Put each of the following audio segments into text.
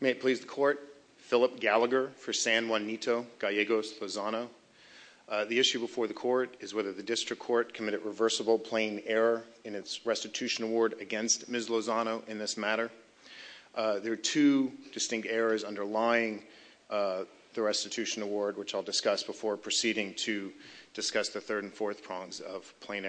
May it please the Court, Philip Gallagher for San Juanito Gallegos Lozano. The issue before the Court is whether the District Court committed reversible plain error in its restitution award against Ms. Lozano in this matter. There are two distinct errors underlying the restitution award which I'll discuss before proceeding to discuss the third and fourth prongs of which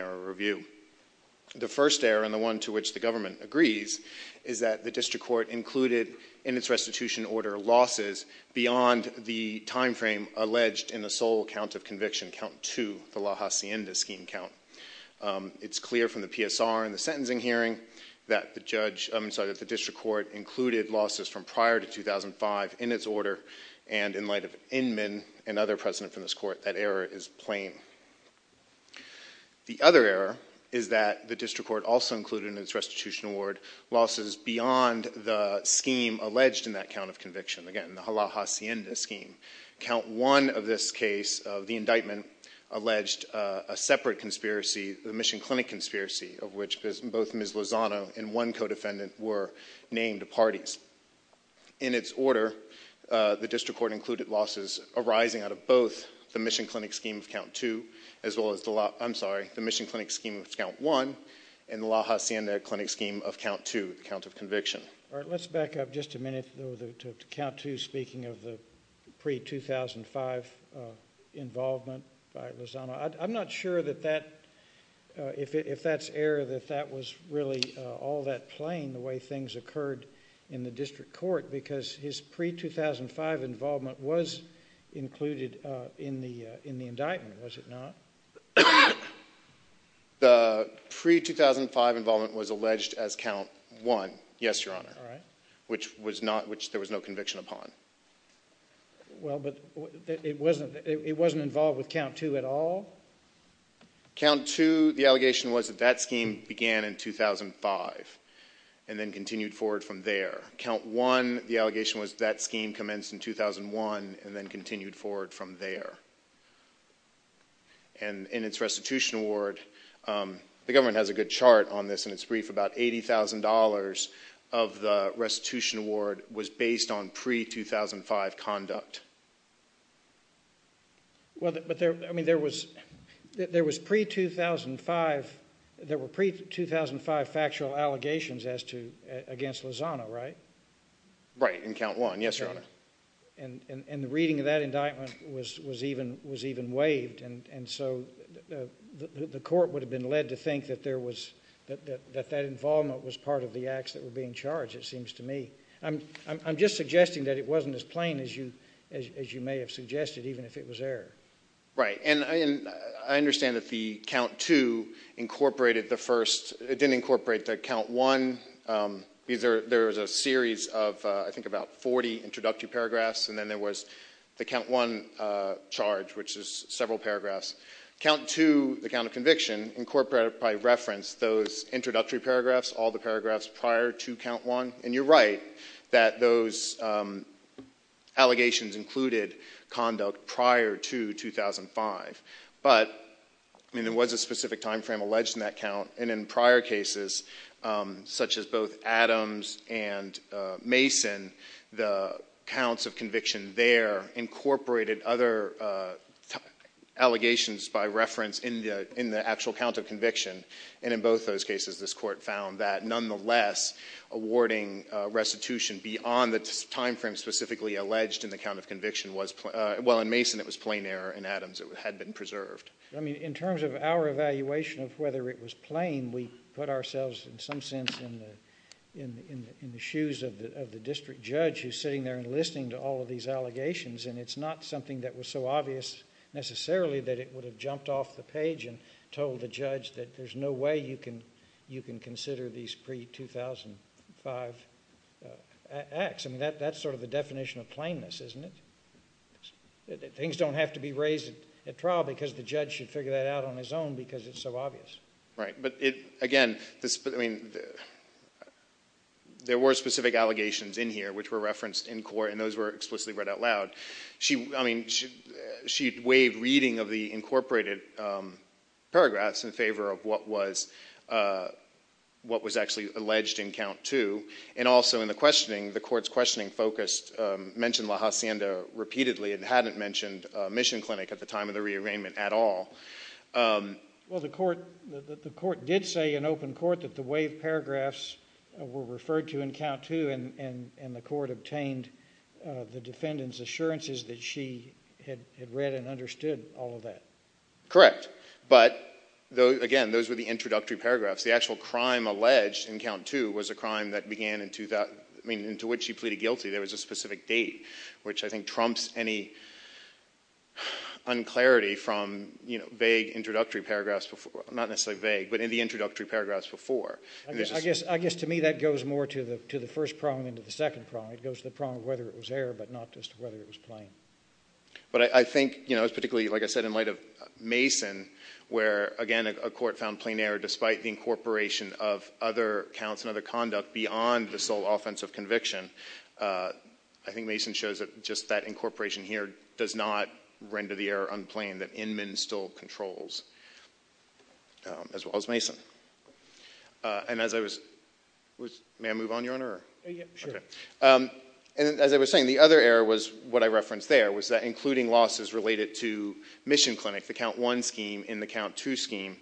the government agrees is that the District Court included in its restitution order losses beyond the time frame alleged in the sole count of conviction, count two, the La Hacienda scheme count. It's clear from the PSR and the sentencing hearing that the District Court included losses from prior to 2005 in its order and in light of Inman and other precedent from this Court that error is plain. The other error is that the District Court also included in its restitution award losses beyond the scheme alleged in that count of conviction, again the La Hacienda scheme. Count one of this case of the indictment alleged a separate conspiracy, the Mission Clinic conspiracy of which both Ms. Lozano and one co-defendant were named parties. In its order, the District Court included losses arising out of both the Mission Clinic scheme of count two as well as the La, I'm sorry, the Mission Clinic scheme of count one and the La Hacienda Clinic scheme of count two, the count of conviction. Let's back up just a minute to count two speaking of the pre-2005 involvement by Lozano. I'm not sure that that, if that's error, that that was really all that plain the way things occurred in the District Court because his pre-2005 involvement was included in the indictment, was it not? The pre-2005 involvement was alleged as count one, yes, Your Honor. All right. Which was not, which there was no conviction upon. Well, but it wasn't, it wasn't involved with count two at all? Count two, the allegation was that that scheme began in 2005 and then continued forward from there. Count one, the allegation was that scheme commenced in 2001 and then continued forward from there. And in its restitution award, the government has a good chart on this in its brief, about $80,000 of the restitution award was based on pre-2005 conduct. Well, but there, I mean, there was, there was pre-2005, there were pre-2005 factual allegations as to, against Lozano, right? Right, in count one, yes, Your Honor. And, and, and the reading of that indictment was, was even, was even waived. And, and so the, the court would have been led to think that there was, that, that, that that involvement was part of the acts that were being charged, it seems to me. I'm, I'm, I'm just suggesting that it wasn't as plain as you, as you may have suggested, even if it was error. Right. And I, and I understand that the count two incorporated the first, it didn't incorporate the count one. These are, there was a series of I think about 40 introductory paragraphs and then there was the count one charge, which is several paragraphs. Count two, the count of conviction incorporated by reference those introductory paragraphs, all the paragraphs prior to count one. And you're right that those allegations included conduct prior to 2005. But, I mean, there was a specific timeframe alleged in that count. And in prior cases, such as both Adams and Mason, the counts of conviction there incorporated other allegations by reference in the, in the actual count of conviction. And in both those cases, this court found that nonetheless, awarding restitution beyond the timeframe specifically alleged in the count of conviction was, well, in Mason it was plain error. In Adams it had been preserved. I mean, in terms of our evaluation of whether it was plain, we put ourselves in some sense in the, in the, in the shoes of the, of the district judge who's sitting there and listening to all of these allegations. And it's not something that was so obvious necessarily that it would have jumped off the page and told the judge that there's no way you can, you can consider these pre-2005 acts. I mean, that, that's sort of the definition of plainness, isn't it? Things don't have to be raised at trial because the judge should figure that out on his own because it's so obvious. Right. But it, again, this, I mean, there were specific allegations in here which were referenced in court and those were explicitly read out loud. She, I mean, she, she waived reading of the incorporated paragraphs in favor of what was, what was actually alleged in count two. And also in the questioning, the court's questioning focused, mentioned La Hacienda repeatedly and hadn't mentioned Mission Clinic at the time of the rearrangement at all. Well, the court, the court did say in open court that the waived paragraphs were referred to in count two and, and, and the court obtained the defendant's assurances that she had read and understood all of that. Correct. But, though, again, those were the introductory paragraphs. The actual crime alleged in count two was a crime that began in 2000, I mean, into which she pleaded guilty. There was a specific date, which I think trumps any unclarity from, you know, vague introductory paragraphs before, not necessarily vague, but in the introductory paragraphs before. I guess, I guess to me that goes more to the, to the first prong than to the second prong. It goes to the prong of whether it was error, but not just whether it was plain. But I think, you know, it was particularly, like I said, in light of Mason, where, again, a court found plain error despite the incorporation of other counts and other conduct beyond the sole offense of conviction. I think Mason shows that just that incorporation here does not render the error unplained, that Inman still controls, as well as Mason. And as I was, was, may I move on, Your Honor? Yeah, sure. Okay. And as I was saying, the other error was what I referenced there, was that including losses related to Mission Clinic, the Count 1 scheme and the Count 2 scheme,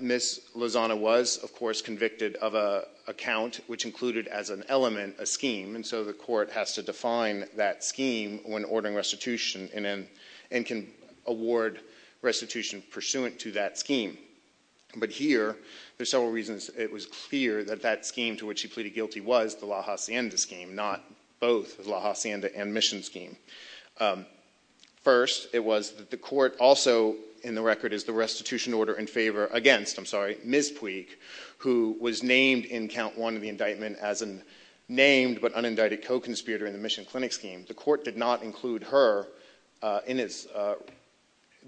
Ms. Lozano was, of course, convicted of a count which included as an element a scheme, and so the court has to define that scheme when ordering restitution and can award restitution pursuant to that scheme. But here, there's several reasons it was clear that that scheme to which she pleaded guilty was the La Hacienda scheme, not both the La Hacienda and Mission scheme. First, it was that the court also, in the record, is the restitution order in favor against, I'm sorry, Ms. Puig, who was named in Count 1 of the indictment as a named but unindicted co-conspirator in the Mission Clinic scheme. The court did not include her in its,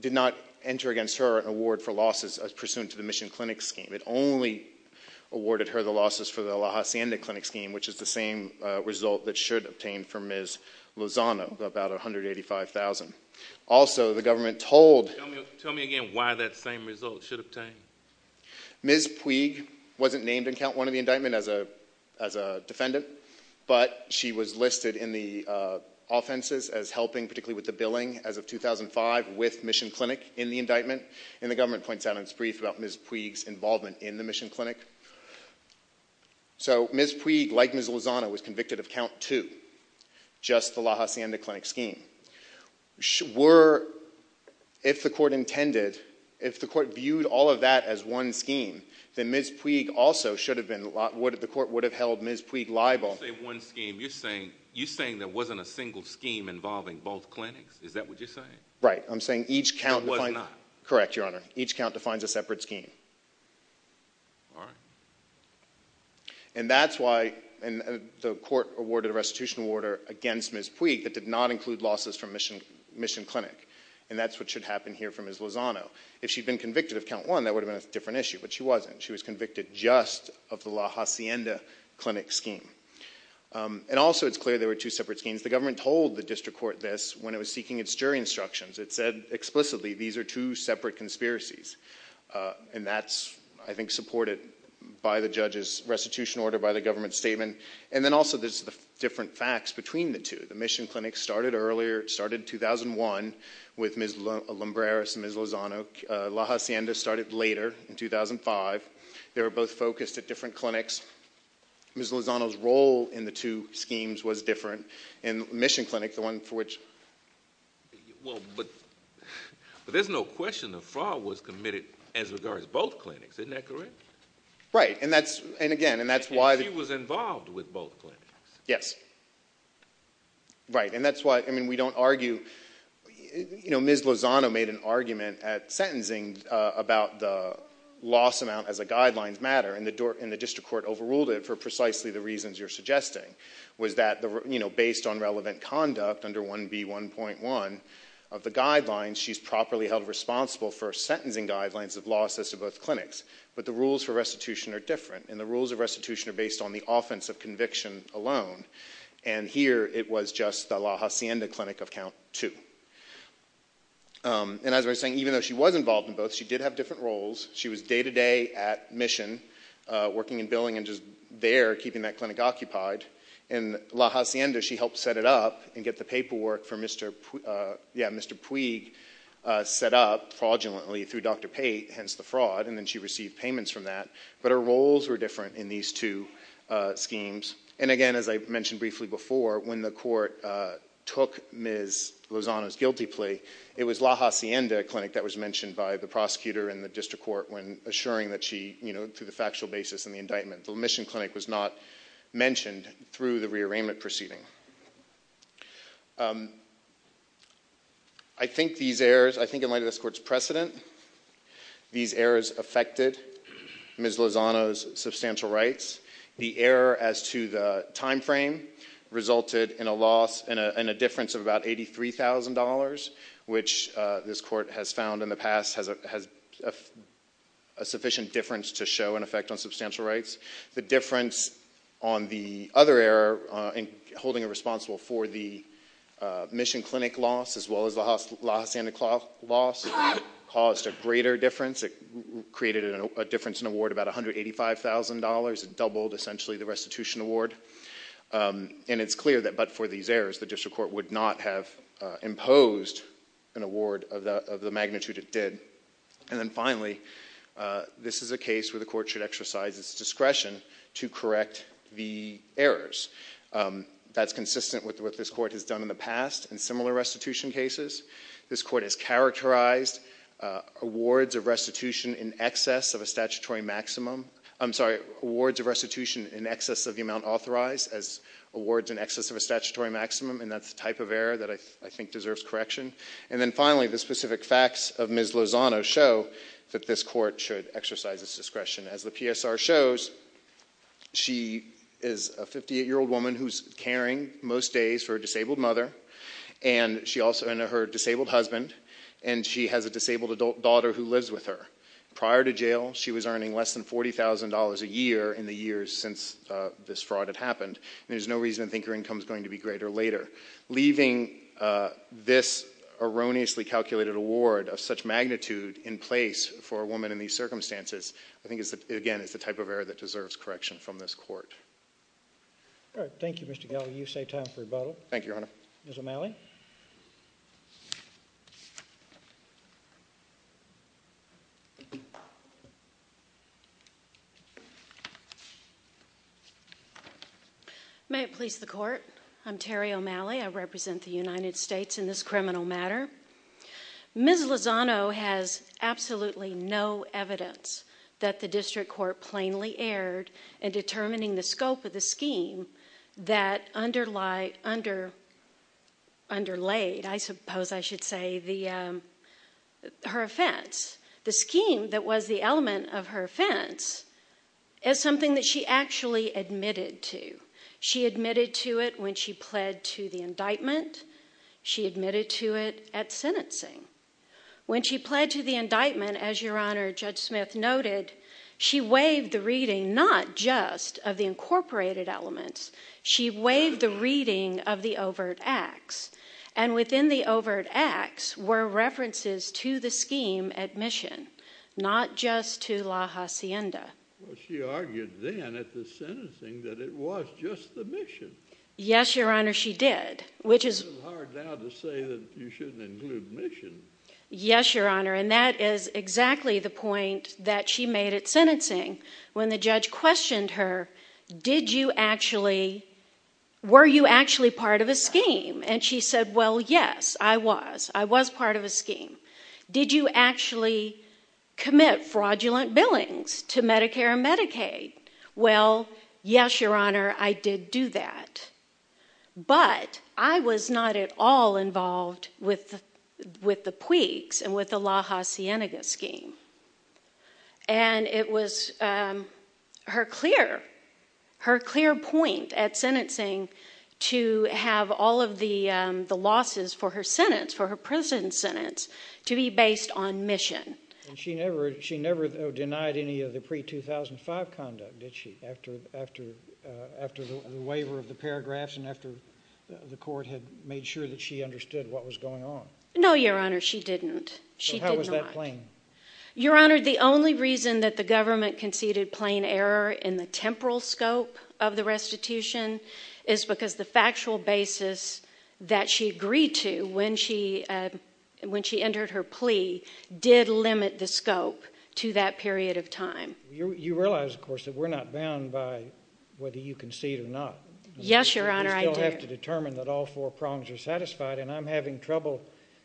did not enter against her an award for losses pursuant to the Mission Clinic scheme. It only awarded her the losses for the La Hacienda Clinic scheme, which is the same result that should obtain for Ms. Lozano, about $185,000. Also, the government told... Tell me again why that same result should obtain? Ms. Puig wasn't named in Count 1 of the indictment as a defendant, but she was listed in the offenses as helping, particularly with the billing, as of 2005 with Mission Clinic in the indictment, and the government points out in its brief about Ms. Puig's involvement in the Mission Clinic. So Ms. Puig, like Ms. Lozano, was convicted of Count 2, just the La Hacienda Clinic scheme. Were, if the court intended, if the court viewed all of that as one scheme, then Ms. Puig also should have been, the court would have held Ms. Puig liable. When you say one scheme, you're saying there wasn't a single scheme involving both clinics? Is that what you're saying? Right. I'm saying each count... There was not? Correct, Your Honor. Each count defines a separate scheme. All right. And that's why the court awarded a restitution order against Ms. Puig that did not include losses from Mission Clinic, and that's what should happen here for Ms. Lozano. If she'd been convicted of Count 1, that would have been a different issue, but she wasn't. She was convicted just of the La Hacienda Clinic scheme. And also, it's clear there were two separate schemes. The government told the district court this when it was seeking its And that's, I think, supported by the judge's restitution order, by the government's statement. And then also, there's the different facts between the two. The Mission Clinic started earlier, started in 2001 with Ms. Lombreras and Ms. Lozano. La Hacienda started later, in 2005. They were both focused at different clinics. Ms. Lozano's role in the two schemes was different, and Mission Clinic, the one for which... Well, but there's no question the fraud was committed as regards both clinics. Isn't that correct? Right. And that's... And she was involved with both clinics. Yes. Right. And that's why, I mean, we don't argue... Ms. Lozano made an argument at sentencing about the loss amount as a guidelines matter, and the district court overruled it for precisely the reasons you're suggesting, was that based on relevant conduct under 1B1.1 of the guidelines, she's properly held responsible for sentencing guidelines of losses to both clinics. But the rules for restitution are different, and the rules of restitution are based on the offense of conviction alone. And here, it was just the La Hacienda Clinic of count two. And as I was saying, even though she was involved in both, she did have different roles. She was day-to-day at Mission, working in billing and just there, keeping that clinic occupied. And La Hacienda, she helped set it up and get the paperwork for Mr. Puig set up fraudulently through Dr. Pate, hence the fraud, and then she received payments from that. But her roles were different in these two schemes. And again, as I mentioned briefly before, when the court took Ms. Lozano's guilty plea, it was La Hacienda Clinic that was mentioned by the prosecutor in the district court when assuring that she, you know, through the factual basis in the indictment, the Mission Clinic was not mentioned through the rearrangement proceeding. I think these errors, I think in light of this court's precedent, these errors affected Ms. Lozano's substantial rights. The error as to the timeframe resulted in a loss, in a sufficient difference to show an effect on substantial rights. The difference on the other error in holding her responsible for the Mission Clinic loss as well as La Hacienda loss caused a greater difference. It created a difference in award about $185,000. It doubled essentially the restitution award. And it's clear that but for these errors, the district court would not have imposed an award of the magnitude it did. And then finally, this is a case where the court should exercise its discretion to correct the errors. That's consistent with what this court has done in the past in similar restitution cases. This court has characterized awards of restitution in excess of a statutory maximum, I'm sorry, awards of restitution in excess of the amount authorized as awards in excess of a statutory maximum, and that's the type of error that I think deserves correction. And then finally, the specific facts of Ms. Lozano show that this court should exercise its discretion. As the PSR shows, she is a 58-year-old woman who's caring most days for a disabled mother and she also, and her disabled husband, and she has a disabled daughter who lives with her. Prior to jail, she was earning less than $40,000 a year in the years since this fraud had happened, and there's no reason to think her income is going to be greater later. Leaving this erroneously calculated award of such magnitude in place for a woman in these circumstances, I think, again, is the type of error that deserves correction from this court. All right. Thank you, Mr. Gallagher. You say time for rebuttal. Thank you, Your Honor. Ms. O'Malley. May it please the Court. I'm Terry O'Malley. I represent the United States in this criminal matter. Ms. Lozano has absolutely no evidence that the district court plainly erred in determining the scope of the scheme that underlayed, I suppose I should say, her offense. The scheme that was the element of her offense is something that she actually admitted to. She admitted to it when she pled to the indictment. She admitted to it at sentencing. When she pled to the indictment, as Your Honor, Judge Smith noted, she waived the reading not just of the incorporated elements. She waived the reading of the overt acts. And within the overt acts were references to the scheme at mission, not just to La Hacienda. Well, she argued then at the sentencing that it was just the mission. Yes, Your Honor, she did, which is— It's a little hard now to say that you shouldn't include mission. Yes, Your Honor, and that is exactly the point that she made at sentencing when the judge questioned her, did you actually—were you actually part of a scheme? And she said, well, yes, I was. I was part of a scheme. Did you actually commit fraudulent billings to Medicare and Medicaid? Well, yes, Your Honor, I did do that. But I was not at all involved with the Puig's and with the La Hacienda scheme. And it was her clear point at sentencing to have all of the losses for her sentence, for her prison sentence, to be based on mission. And she never denied any of the pre-2005 conduct, did she, after the waiver of the paragraphs and after the court had made sure that she understood what was going on? No, Your Honor, she didn't. She did not. How was that plain? Your Honor, the only reason that the government conceded plain error in the temporal scope of the restitution is because the factual basis that she agreed to when she entered her plea did limit the scope to that period of time. You realize, of course, that we're not bound by whether you concede or not. Yes, Your Honor, I do. You still have to determine that all four prongs are satisfied, and I'm having trouble.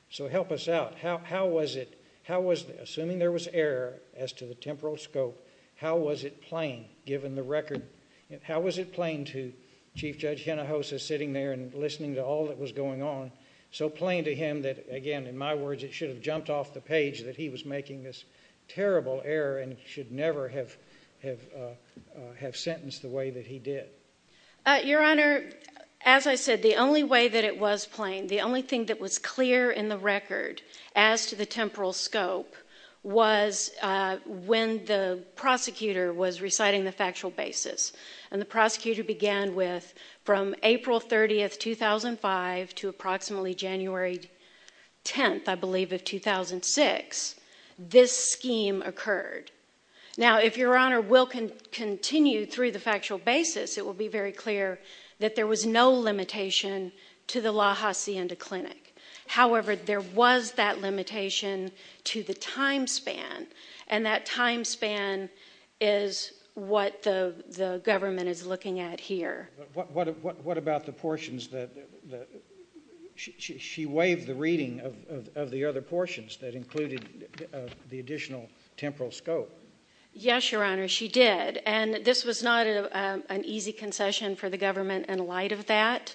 So help us out. How was it, assuming there was error as to the temporal scope, how was it plain given the record? How was it plain to Chief Judge Hinojosa sitting there and listening to all that was going on, so plain to him that, again, in my words, it should have jumped off the page that he was making this terrible error and should never have sentenced the way that he did? Your Honor, as I said, the only way that it was plain, the only thing that was clear in the record as to the temporal scope was when the prosecutor was reciting the factual basis, and the prosecutor began with, from April 30, 2005 to approximately January 10, I believe, of 2006, this scheme occurred. Now, if Your Honor will continue through the factual basis, it will be very clear that there was no limitation to the La Hacienda Clinic. However, there was that limitation to the time span, and that time span is what the government is looking at here. But what about the portions that she waived the reading of the other portions that included the additional temporal scope? Yes, Your Honor, she did. And this was not an easy concession for the government in light of that.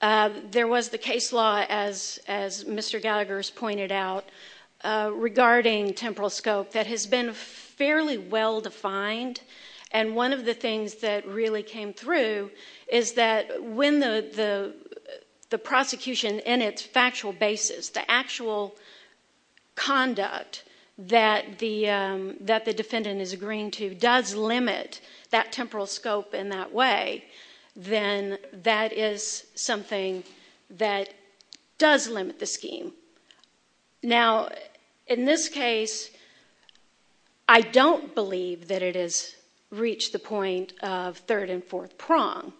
There was the case law, as Mr. Gallagher has pointed out, regarding temporal scope that has been fairly well defined. And one of the things that really came through is that when the prosecution in its factual basis, the actual conduct that the defendant is agreeing to does limit that temporal scope in that way, then that is something that does limit the scheme. Now, in this case, I don't believe that it has reached the point of third and fourth prong.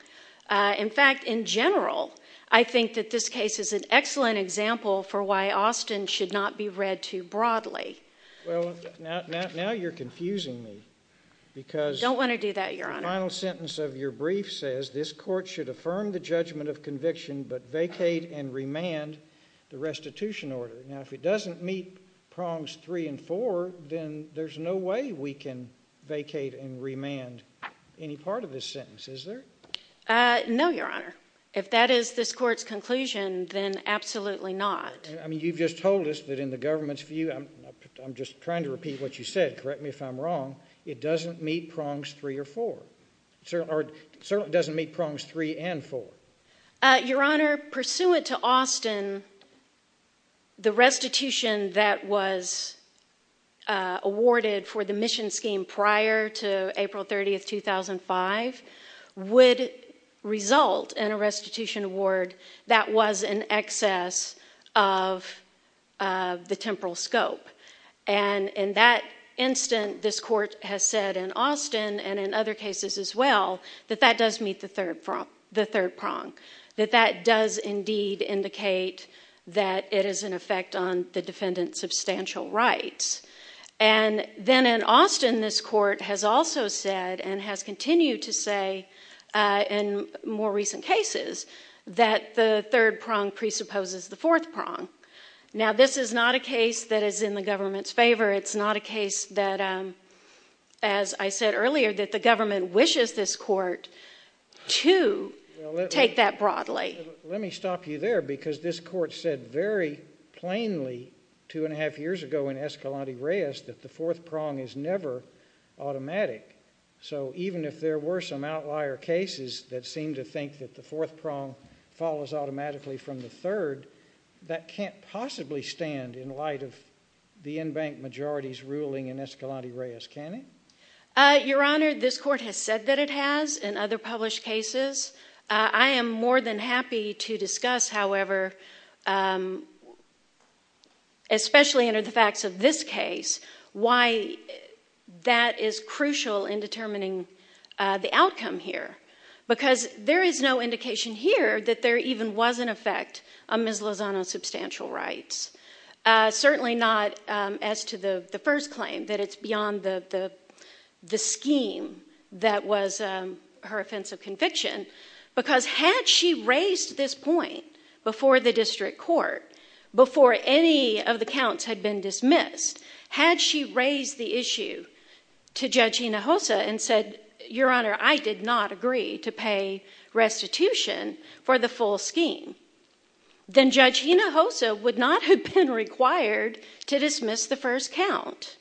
In fact, in general, I think that this case is an excellent example for why Austin should not be read too broadly. Well, now you're confusing me because the final sentence of your brief says, this court should affirm the judgment of conviction but vacate and remand the restitution order. Now, if it doesn't meet prongs three and four, then there's no way we can vacate and remand any part of this sentence, is there? No, Your Honor. If that is this court's conclusion, then absolutely not. I mean, you've just told us that in the government's view, I'm just trying to repeat what you said, correct me if I'm wrong, it doesn't meet prongs three and four. Your Honor, pursuant to Austin, the restitution that was awarded for the mission scheme prior to April 30, 2005, would result in a restitution award that was in excess of the temporal scope. And in that instant, this court has said in Austin and in other cases as well, that that does meet the third prong, that that does indeed indicate that it is an effect on the defendant's substantial rights. And then in Austin, this court has also said and has continued to say in more recent cases that the third prong presupposes the fourth prong. Now, this is not a case that is in the government's favor. It's not a case that, as I said earlier, that the government wishes this court to take that broadly. Let me stop you there because this court said very plainly two and a half years ago in Escalante Reyes that the fourth prong is never automatic. So even if there were some outlier cases that seemed to think that the fourth prong follows automatically from the third, that can't possibly stand in light of the in-bank majority's ruling in Escalante Reyes, can it? Your Honor, this court has said that it has in other published cases. I am more than happy to discuss, however, especially under the facts of this case, why that is crucial in determining the outcome here because there is no indication here that there even was an effect on Ms. Lozano's substantial rights, certainly not as to the first claim that it's beyond the scheme that was her offense of conviction because had she raised this point before the district court, before any of the counts had been dismissed, had she raised the issue to Judge Hinojosa and said, Your Honor, I did not agree to pay restitution for the full scheme, then Judge Hinojosa would not have been required to dismiss the first count.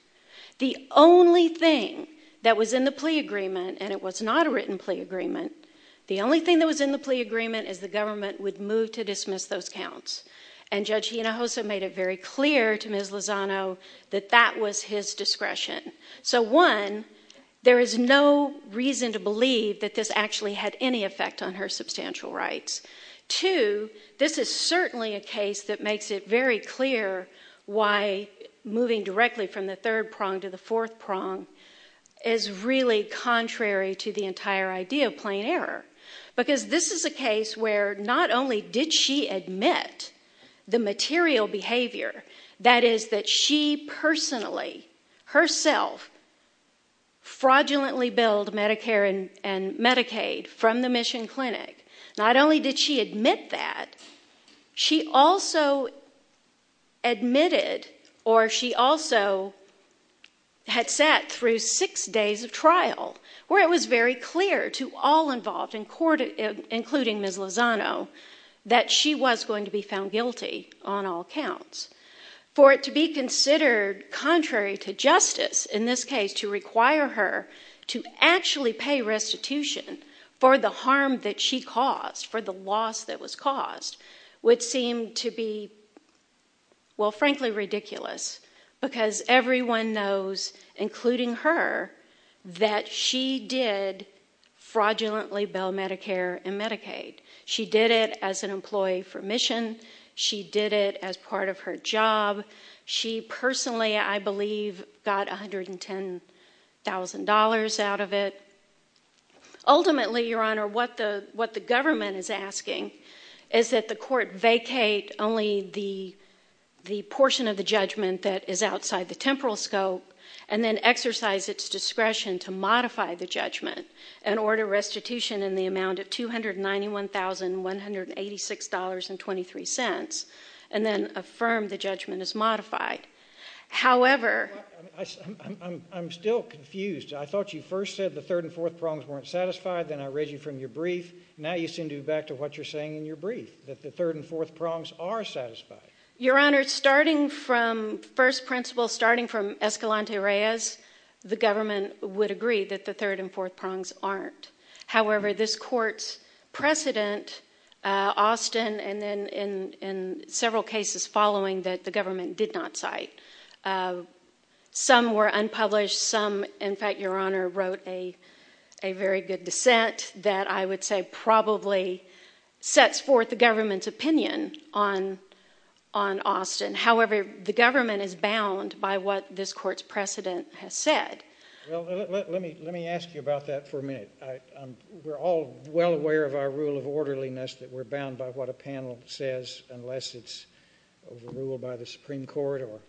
The only thing that was in the plea agreement, and it was not a written plea agreement, the only thing that was in the plea agreement is the government would move to dismiss those counts, and Judge Hinojosa made it very clear to Ms. Lozano that that was his discretion. So, one, there is no reason to believe that this actually had any effect on her substantial rights. Two, this is certainly a case that makes it very clear why moving directly from the third prong to the fourth prong is really contrary to the entire idea of plain error because this is a case where not only did she admit the material behavior, that is that she personally, herself, fraudulently billed Medicare and Medicaid from the Mission Clinic, not only did she admit that, she also admitted or she also had sat through six days of trial where it was very clear to all involved in court, including Ms. Lozano, that she was going to be found guilty on all counts. For it to be considered contrary to justice, in this case to require her to actually pay restitution for the harm that she caused, for the loss that was caused, would seem to be, well, frankly ridiculous because everyone knows, including her, that she did fraudulently bill Medicare and Medicaid. She did it as an employee for Mission. She did it as part of her job. She personally, I believe, got $110,000 out of it. Ultimately, Your Honor, what the government is asking is that the court vacate only the portion of the judgment that is outside the temporal scope and then exercise its discretion to modify the judgment and order restitution in the amount of $291,186.23 and then affirm the judgment as modified. However... I'm still confused. I thought you first said the third and fourth prongs weren't satisfied. Then I read you from your brief. Now you seem to go back to what you're saying in your brief, that the third and fourth prongs are satisfied. Your Honor, starting from first principle, starting from Escalante Reyes, the government would agree that the third and fourth prongs aren't. However, this court's precedent, Austin, and then in several cases following that, the government did not cite. Some were unpublished. Some, in fact, Your Honor, wrote a very good dissent that I would say probably sets forth the government's opinion on Austin. However, the government is bound by what this court's precedent has said. Well, let me ask you about that for a minute. We're all well aware of our rule of orderliness that we're bound by what a panel says unless it's overruled by the Supreme Court or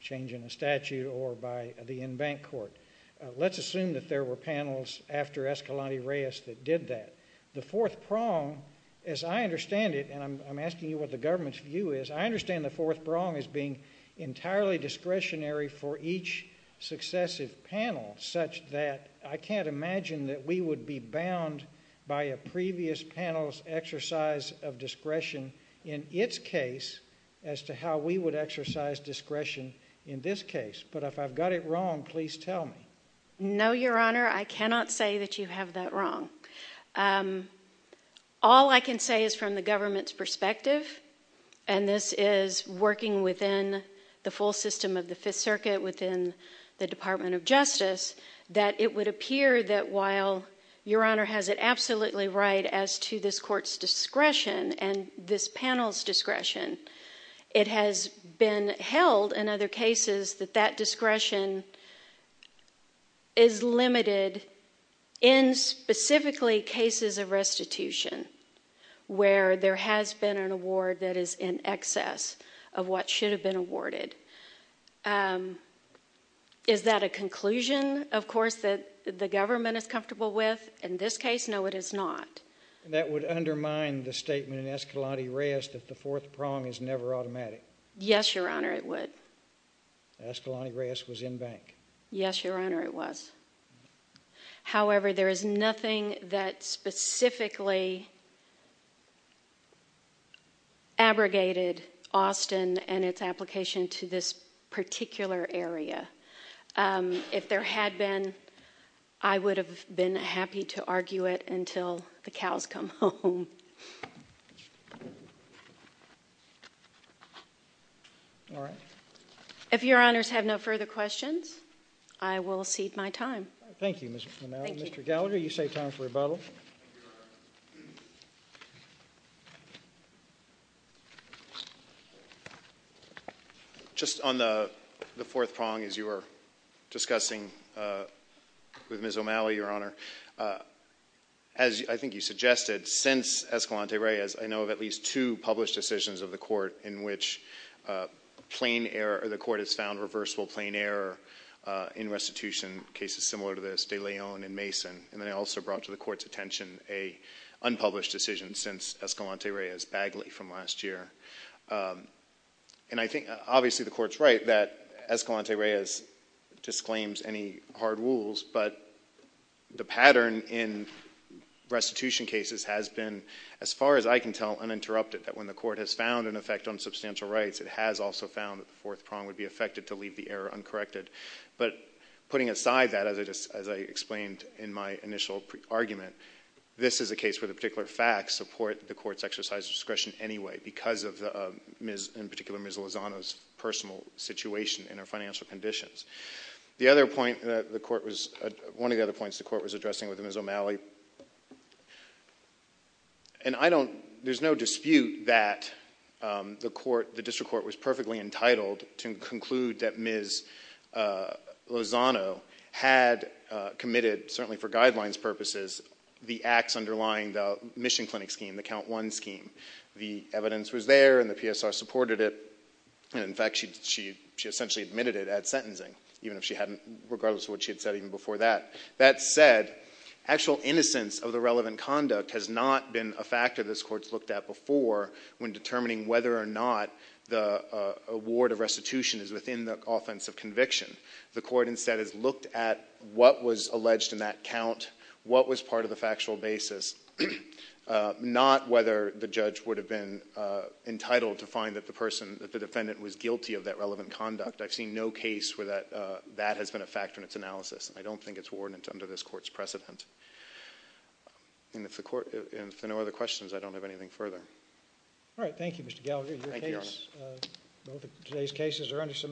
changing a statute or by the in-bank court. Let's assume that there were panels after Escalante Reyes that did that. The fourth prong, as I understand it, and I'm asking you what the government's view is, I understand the fourth prong as being entirely discretionary for each successive panel such that I can't imagine that we would be bound by a previous panel's exercise of discretion in its case as to how we would exercise discretion in this case. But if I've got it wrong, please tell me. No, Your Honor, I cannot say that you have that wrong. All I can say is from the government's perspective, and this is working within the full system of the Fifth Circuit within the Department of Justice, that it would appear that while Your Honor has it absolutely right as to this court's discretion and this panel's discretion, it has been held in other cases that that discretion is limited in specifically cases of restitution where there has been an award that is in excess of what should have been awarded. Is that a conclusion, of course, that the government is comfortable with? In this case, no, it is not. That would undermine the statement in Escalante Reyes that the fourth prong is never automatic. Yes, Your Honor, it would. Escalante Reyes was in-bank. Yes, Your Honor, it was. However, there is nothing that specifically abrogated Austin and its application to this particular area. If there had been, I would have been happy to argue it until the cows come home. All right. If Your Honors have no further questions, I will cede my time. Thank you, Ms. O'Malley. Mr. Gallagher, you say time for rebuttal. Just on the fourth prong as you were discussing with Ms. O'Malley, Your Honor, as I think you suggested, since Escalante Reyes, I know of at least two published decisions of the Court in which the Court has found reversible plain error in restitution cases similar to this, De Leon and Mason. And then I also brought to the Court's attention an unpublished decision since Escalante Reyes, Bagley, from last year. And I think obviously the Court is right that Escalante Reyes disclaims any hard rules, but the pattern in restitution cases has been, as far as I can tell, uninterrupted, that when the Court has found an effect on substantial rights, it has also found that the fourth prong would be affected to leave the error uncorrected. But putting aside that, as I explained in my initial argument, this is a case where the particular facts support the Court's exercise of discretion anyway because of, in particular, Ms. Lozano's personal situation and her financial conditions. One of the other points the Court was addressing with Ms. O'Malley, and there's no dispute that the District Court was perfectly entitled to conclude that Ms. Lozano had committed, certainly for guidelines purposes, the acts underlying the Mission Clinic scheme, the Count I scheme. The evidence was there and the PSR supported it. And in fact, she essentially admitted it at sentencing, even if she hadn't, regardless of what she had said even before that. That said, actual innocence of the relevant conduct has not been a factor this Court's looked at before when determining whether or not the award of restitution is within the offense of conviction. The Court instead has looked at what was alleged in that count, what was part of the factual basis, not whether the judge would have been entitled to find that the defendant was guilty of that relevant conduct. I've seen no case where that has been a factor in its analysis. I don't think it's warranted under this Court's precedent. And if there are no other questions, I don't have anything further. All right. Thank you, Mr. Gallagher. Thank you, Your Honor. Both of today's cases are under submission.